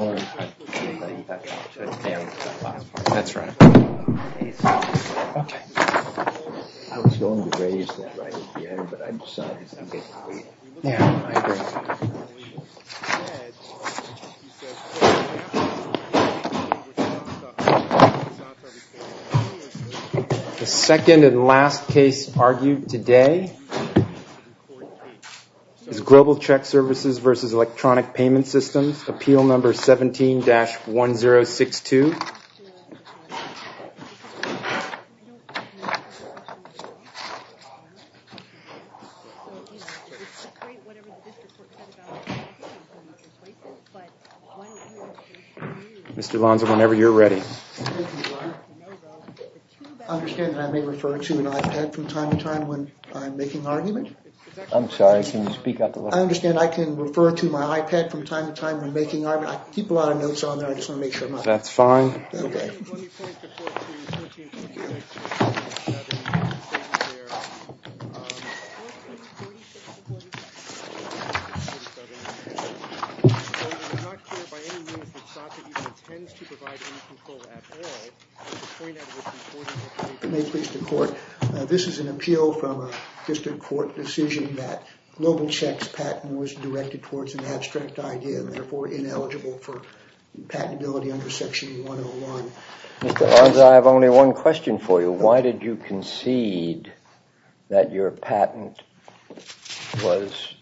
The second and last case argued today is Global Check Services v. Electronic Payment Systems, Appeal No. 17-1062. Mr. Lonson, whenever you're ready. I understand that I may refer to an iPad from time to time when I'm making arguments? I'm sorry, can you speak up a little? I understand I can refer to my iPad from time to time when I'm making arguments? I keep a lot of notes on there, I just want to make sure I'm not... That's fine. Let me point the court to No. 17-1062, then you can stay there. I'm not sure by any means that SACA even intends to provide any control at all. May it please the court, this is an appeal from a district court decision that Global Check's patent was directed towards an abstract idea and therefore ineligible for patentability under Section 101. Mr. Lonson, I have only one question for you. Why did you concede that your patent was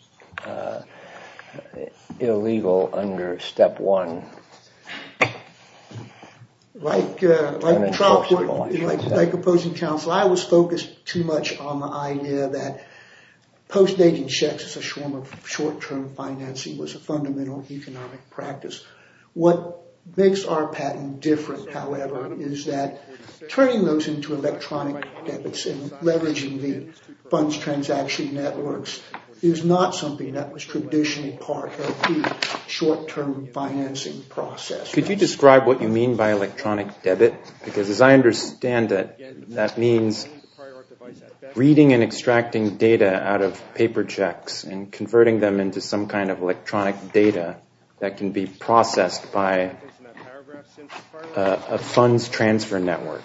illegal under Step 1? Like opposing counsel, I was focused too much on the idea that post-dating checks as a form of short-term financing was a fundamental economic practice. What makes our patent different, however, is that turning those into electronic debits and leveraging the funds transaction networks is not something that was traditionally part of the short-term financing process. Could you describe what you mean by electronic debit? Because as I understand it, that means reading and extracting data out of paper checks and converting them into some kind of electronic data that can be processed by a funds transfer network.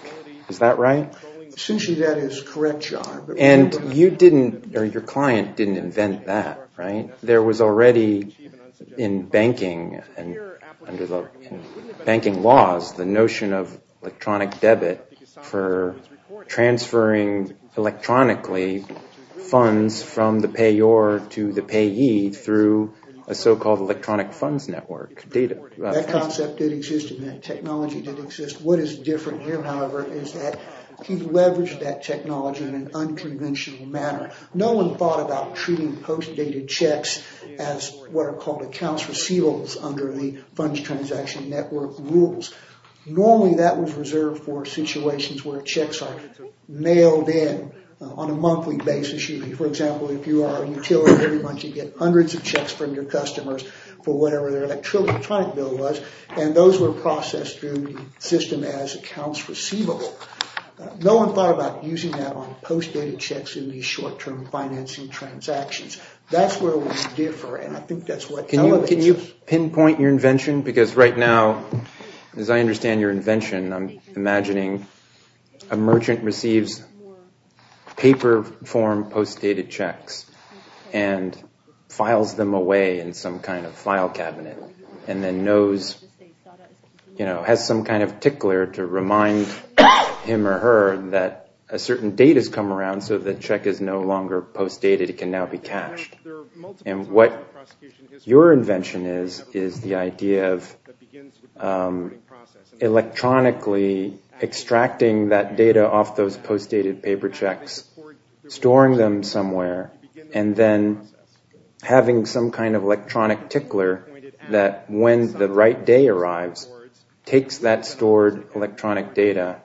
Is that right? Essentially, that is correct, Your Honor. And you didn't, or your client didn't invent that, right? There was already in banking and under the banking laws the notion of electronic debit for transferring electronically funds from the payer to the payee through a so-called electronic funds network. That concept did exist and that technology did exist. What is different here, however, is that he leveraged that technology in an unconventional manner. No one thought about treating post-dated checks as what are called accounts receivables under the funds transaction network rules. Normally, that was reserved for situations where checks are mailed in on a monthly basis. For example, if you are a utility, every month you get hundreds of checks from your customers for whatever their electronic bill was and those were processed through the system as accounts receivable. No one thought about using that on post-dated checks in these short-term financing transactions. That's where we differ and I think that's what elevates it. Can you pinpoint your invention? Because right now, as I understand your invention, I'm imagining a merchant receives paper form post-dated checks and files them away in some kind of file cabinet and then has some kind of tickler to remind him or her that a certain date has come around so the check is no longer post-dated, it can now be cashed. And what your invention is, is the idea of electronically extracting that data off those post-dated paper checks, storing them somewhere and then having some kind of electronic tickler that when the right day arrives, takes that stored electronic data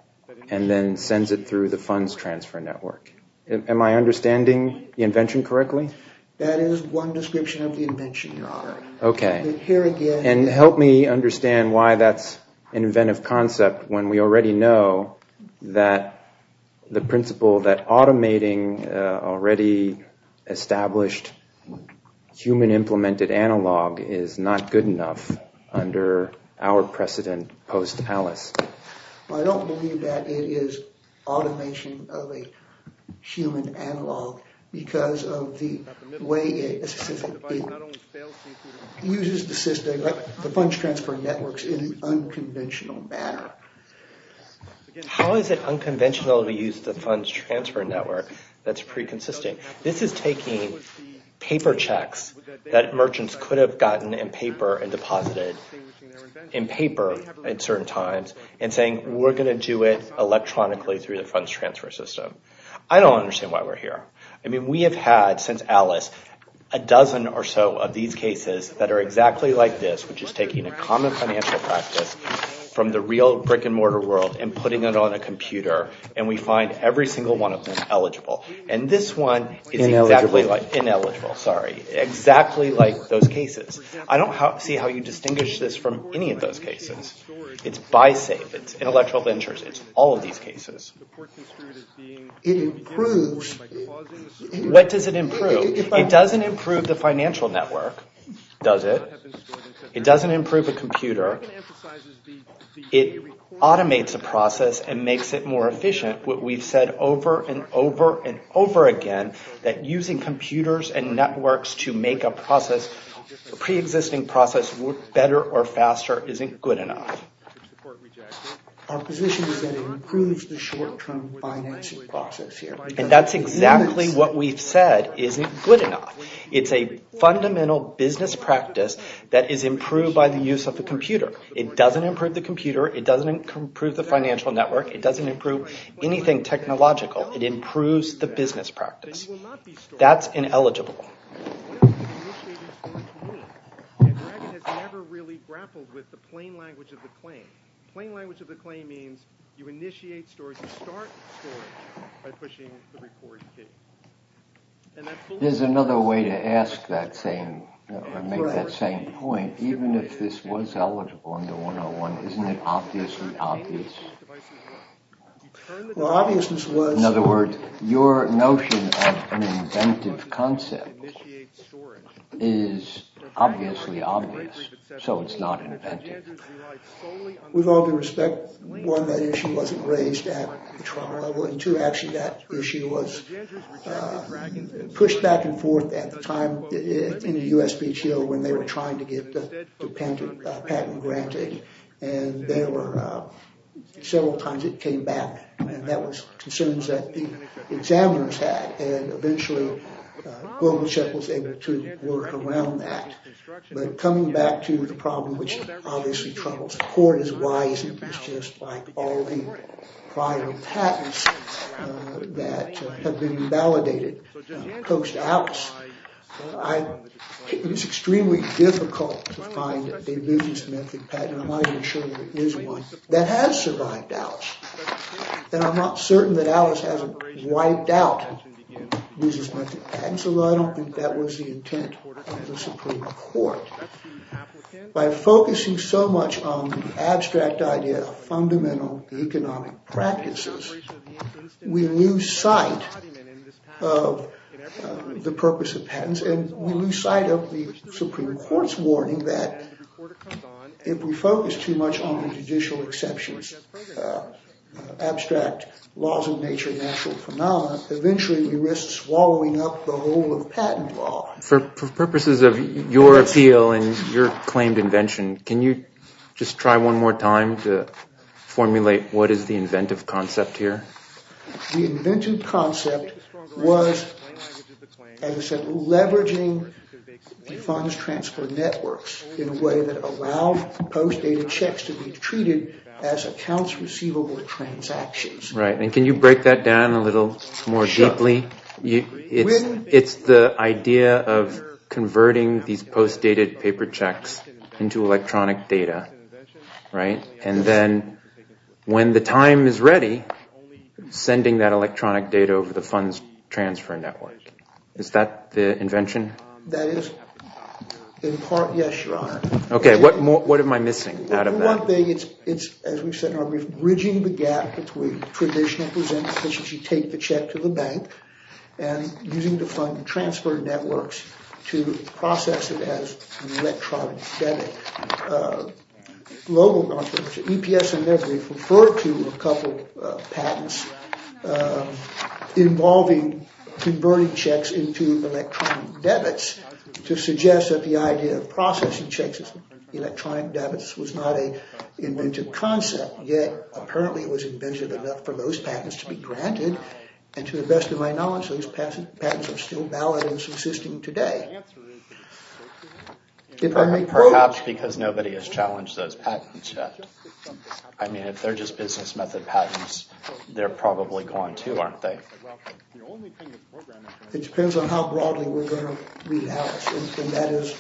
and then sends it through the funds transfer network. Am I understanding the invention correctly? That is one description of the invention, your honor. Okay. And help me understand why that's an inventive concept when we already know that the principle that automating already established human implemented analog is not good enough under our precedent post-ALICE. I don't believe that it is automation of a human analog because of the way it uses the system, the funds transfer networks in an unconventional manner. How is it unconventional to use the funds transfer network that's pre-consisting? This is taking paper checks that merchants could have gotten in paper and deposited in paper at certain times and saying we're going to do it electronically through the funds transfer system. I don't understand why we're here. I mean we have had since ALICE a dozen or so of these cases that are exactly like this, which is taking a common financial practice from the real brick and mortar world and putting it on a computer and we find every single one of them eligible. And this one is exactly like those cases. I don't see how you distinguish this from any of those cases. It's buy safe. It's intellectual interest. It's all of these cases. It improves. What does it improve? It doesn't improve the financial network, does it? It doesn't improve a computer. It automates a process and makes it more efficient. We've said over and over and over again that using computers and networks to make a process, a pre-existing process work better or faster isn't good enough. Our position is that it improves the short-term financing process here. And that's exactly what we've said isn't good enough. It's a fundamental business practice that is improved by the use of a computer. It doesn't improve the computer. It doesn't improve the financial network. It doesn't improve anything technological. It improves the business practice. That's ineligible. There's another way to ask that same point. Even if this was eligible under 101, isn't it obviously obvious? Well, obviousness was… In other words, your notion of an inventive concept is obviously obvious. So it's not inventive. With all due respect, one, that issue wasn't raised at the trial level. And two, actually, that issue was pushed back and forth at the time in the USPTO when they were trying to get the patent granted. And there were several times it came back. And that was concerns that the examiners had. And eventually, GlobalCheck was able to work around that. But coming back to the problem, which obviously troubles the court, is why isn't this just like all the prior patents that have been validated? It's extremely difficult to find a business-method patent. I'm not even sure there is one that has survived Alice. And I'm not certain that Alice has wiped out business-method patents, although I don't think that was the intent of the Supreme Court. By focusing so much on the abstract idea of fundamental economic practices, we lose sight of the purpose of patents. And we lose sight of the Supreme Court's warning that if we focus too much on judicial exceptions, abstract laws of nature, natural phenomena, eventually we risk swallowing up the whole of patent law. For purposes of your appeal and your claimed invention, can you just try one more time to formulate what is the inventive concept here? The inventive concept was, as I said, leveraging the funds transfer networks in a way that allows post-dated checks to be treated as accounts receivable transactions. Right. And can you break that down a little more deeply? Sure. It's the idea of converting these post-dated paper checks into electronic data, right? And then when the time is ready, sending that electronic data over the funds transfer network. Is that the invention? That is, in part, yes, Your Honor. Okay. What am I missing out of that? One thing is, as we've said in our brief, bridging the gap between traditional presentations. You take the check to the bank. And using the fund transfer networks to process it as an electronic debit. EPS in their brief referred to a couple of patents involving converting checks into electronic debits to suggest that the idea of processing checks as electronic debits was not an inventive concept. Yet, apparently it was inventive enough for those patents to be granted. And to the best of my knowledge, those patents are still valid and subsisting today. Perhaps because nobody has challenged those patents yet. I mean, if they're just business method patents, they're probably gone too, aren't they? It depends on how broadly we're going to read Alice. And that is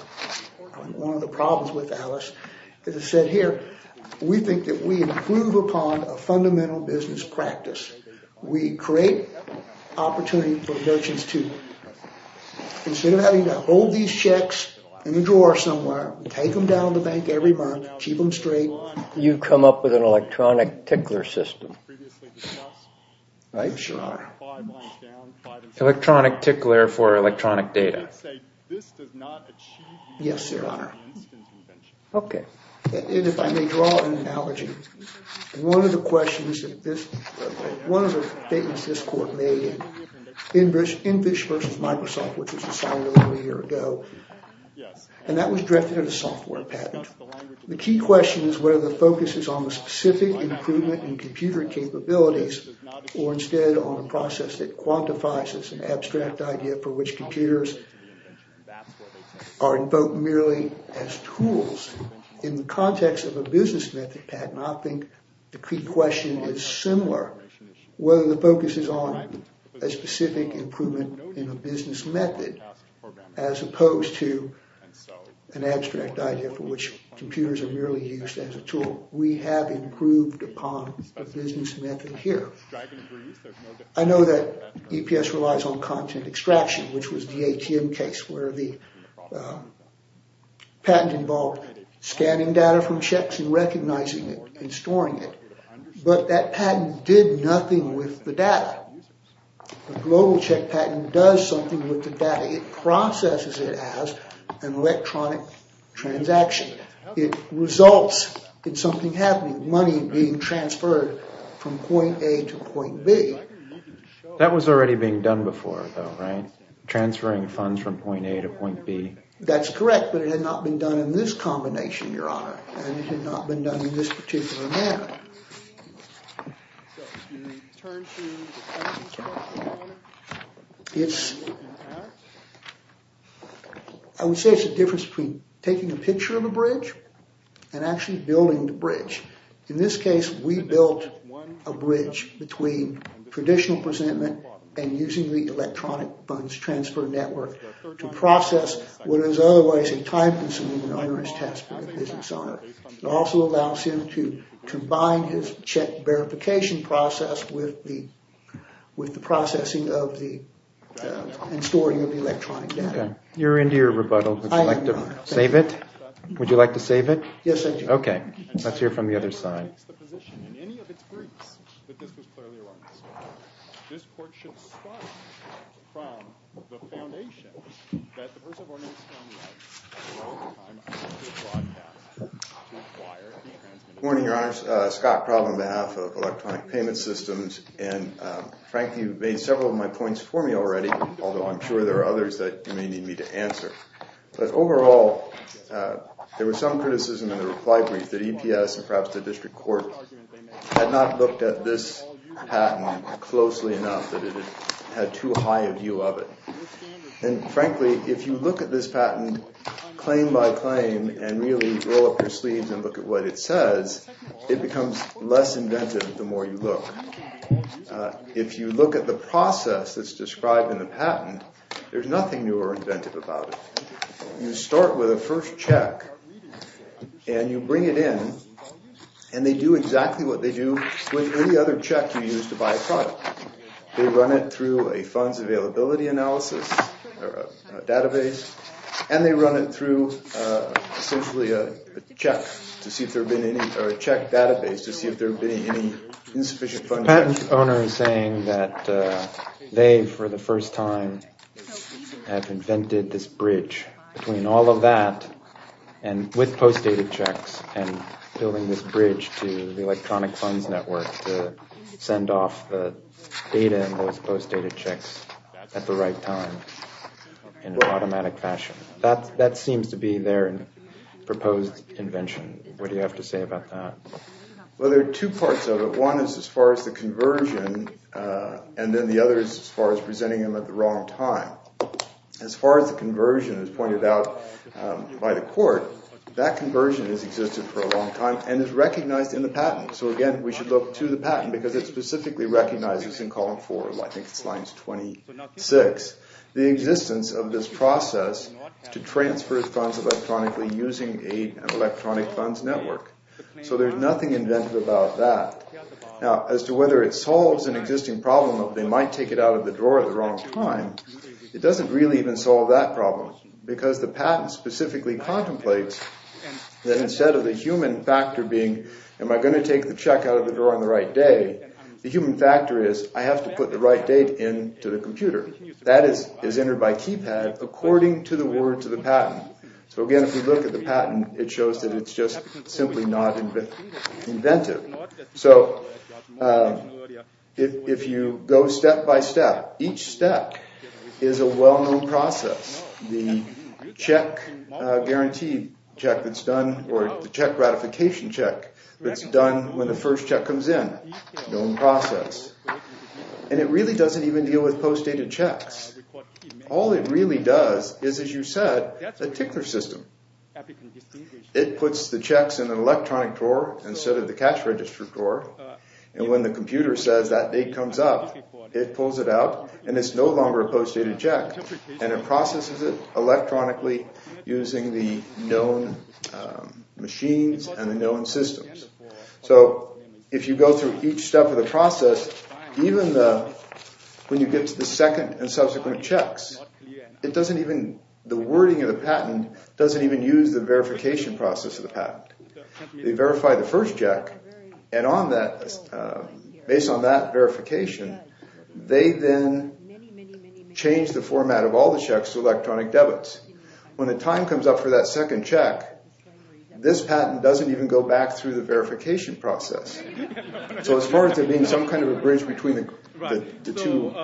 one of the problems with Alice. As I said here, we think that we improve upon a fundamental business practice. We create opportunity for merchants to, instead of having to hold these checks in a drawer somewhere, take them down to the bank every month, keep them straight. You come up with an electronic tickler system. Right, Your Honor. Yes, Your Honor. Okay. If I may draw an analogy. One of the questions that this, one of the patents this court made, InVish versus Microsoft, which was assigned a little over a year ago, and that was directed at a software patent. The key question is whether the focus is on the specific improvement in computer capabilities or instead on a process that quantifies as an abstract idea for which computers are invoked merely as tools. In the context of a business method patent, I think the key question is similar. Whether the focus is on a specific improvement in a business method as opposed to an abstract idea for which computers are merely used as a tool. We have improved upon a business method here. I know that EPS relies on content extraction, which was the ATM case where the patent involved scanning data from checks and recognizing it and storing it. But that patent did nothing with the data. The global check patent does something with the data. It processes it as an electronic transaction. It results in something happening, money being transferred from point A to point B. That was already being done before, though, right? Transferring funds from point A to point B. That's correct, but it had not been done in this combination, Your Honor. And it had not been done in this particular manner. I would say it's the difference between taking a picture of a bridge and actually building the bridge. In this case, we built a bridge between traditional presentment and using the electronic funds transfer network to process what is otherwise a time-consuming and onerous task for the business owner. It also allows him to combine his check verification process with the processing and storing of the electronic data. You're into your rebuttal. I am, Your Honor. Would you like to save it? Yes, I do. Okay, let's hear from the other side. Good morning, Your Honors. Scott Problem on behalf of Electronic Payment Systems. And, frankly, you've made several of my points for me already, although I'm sure there are others that you may need me to answer. But overall, there was some criticism in the reply brief that EPS and perhaps the district court had not looked at this patent closely enough that it had too high a view of it. And, frankly, if you look at this patent claim by claim and really roll up your sleeves and look at what it says, it becomes less inventive the more you look. If you look at the process that's described in the patent, there's nothing new or inventive about it. You start with a first check, and you bring it in, and they do exactly what they do with any other check you use to buy a product. They run it through a funds availability analysis or a database, and they run it through essentially a check to see if there have been any or a check database to see if there have been any insufficient funding. The patent owner is saying that they, for the first time, have invented this bridge between all of that with post-dated checks and building this bridge to the electronic funds network to send off the data and those post-dated checks at the right time in an automatic fashion. That seems to be their proposed invention. What do you have to say about that? Well, there are two parts of it. One is as far as the conversion, and then the other is as far as presenting them at the wrong time. As far as the conversion is pointed out by the court, that conversion has existed for a long time and is recognized in the patent. So, again, we should look to the patent because it specifically recognizes in column 4, I think it's lines 26, the existence of this process to transfer funds electronically using an electronic funds network. So there's nothing inventive about that. Now, as to whether it solves an existing problem of they might take it out of the drawer at the wrong time, it doesn't really even solve that problem because the patent specifically contemplates that instead of the human factor being, am I going to take the check out of the drawer on the right day, the human factor is I have to put the right date into the computer. That is entered by keypad according to the word to the patent. So, again, if you look at the patent, it shows that it's just simply not inventive. So, if you go step by step, each step is a well-known process. The check guarantee check that's done or the check ratification check that's done when the first check comes in, known process. And it really doesn't even deal with post-dated checks. All it really does is, as you said, a ticker system. It puts the checks in an electronic drawer instead of the cash register drawer. And when the computer says that date comes up, it pulls it out, and it's no longer a post-dated check. And it processes it electronically using the known machines and the known systems. So, if you go through each step of the process, even when you get to the second and subsequent checks, the wording of the patent doesn't even use the verification process of the patent. They verify the first check, and based on that verification, they then change the format of all the checks to electronic debits. When the time comes up for that second check, this patent doesn't even go back through the verification process. So, as far as there being some kind of a bridge between the two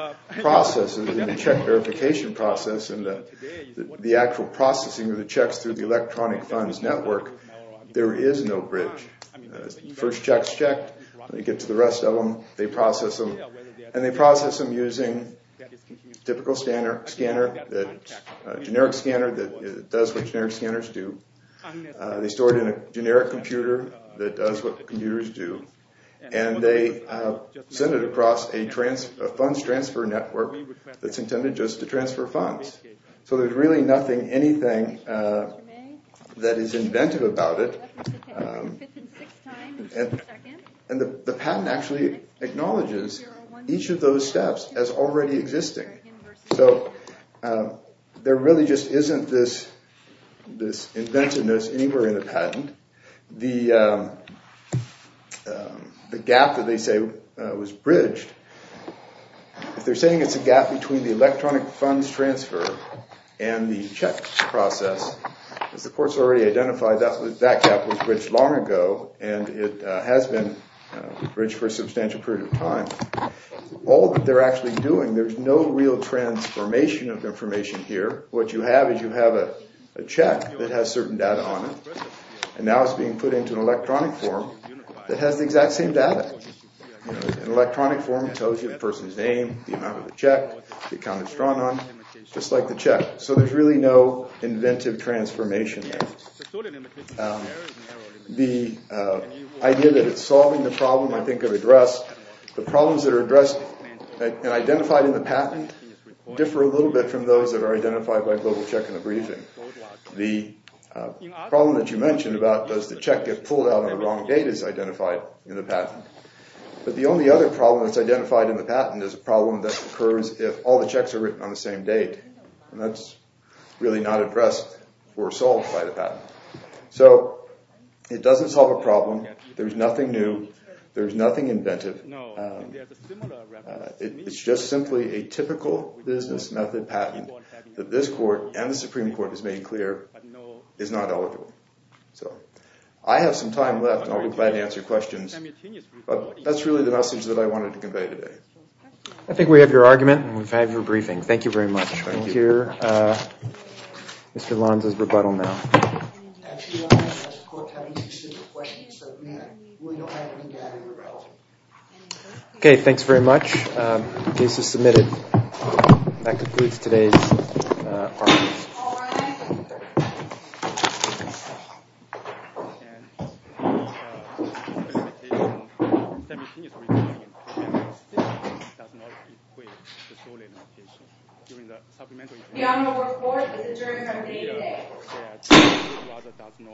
processes, the check verification process and the actual processing of the checks through the electronic funds network, there is no bridge. First check's checked. When you get to the rest of them, they process them. And they process them using a typical scanner, a generic scanner that does what generic scanners do. They store it in a generic computer that does what computers do. And they send it across a funds transfer network that's intended just to transfer funds. So, there's really nothing, anything that is inventive about it. And the patent actually acknowledges each of those steps as already existing. So, there really just isn't this inventiveness anywhere in the patent. The gap that they say was bridged, if they're saying it's a gap between the electronic funds transfer and the check process, as the court's already identified, that gap was bridged long ago, and it has been bridged for a substantial period of time. All that they're actually doing, there's no real transformation of information here. What you have is you have a check that has certain data on it, and now it's being put into an electronic form that has the exact same data. An electronic form tells you the person's name, the amount of the check, the account it's drawn on, just like the check. So, there's really no inventive transformation there. The idea that it's solving the problem I think I've addressed, the problems that are addressed and identified in the patent differ a little bit from those that are identified by GlobalCheck in the briefing. The problem that you mentioned about does the check get pulled out on the wrong date is identified in the patent. But the only other problem that's identified in the patent is a problem that occurs if all the checks are written on the same date, and that's really not addressed or solved by the patent. So, it doesn't solve a problem, there's nothing new, there's nothing inventive. It's just simply a typical business method patent that this court and the Supreme Court has made clear is not eligible. So, I have some time left and I'll be glad to answer questions, but that's really the message that I wanted to convey today. I think we have your argument and we've had your briefing. Thank you very much. We'll hear Mr. Lons' rebuttal now. Actually, we don't have such a court having two separate questions, so we don't have any data irrelevant. Okay, thanks very much. Case is submitted. That concludes today's argument. All rise.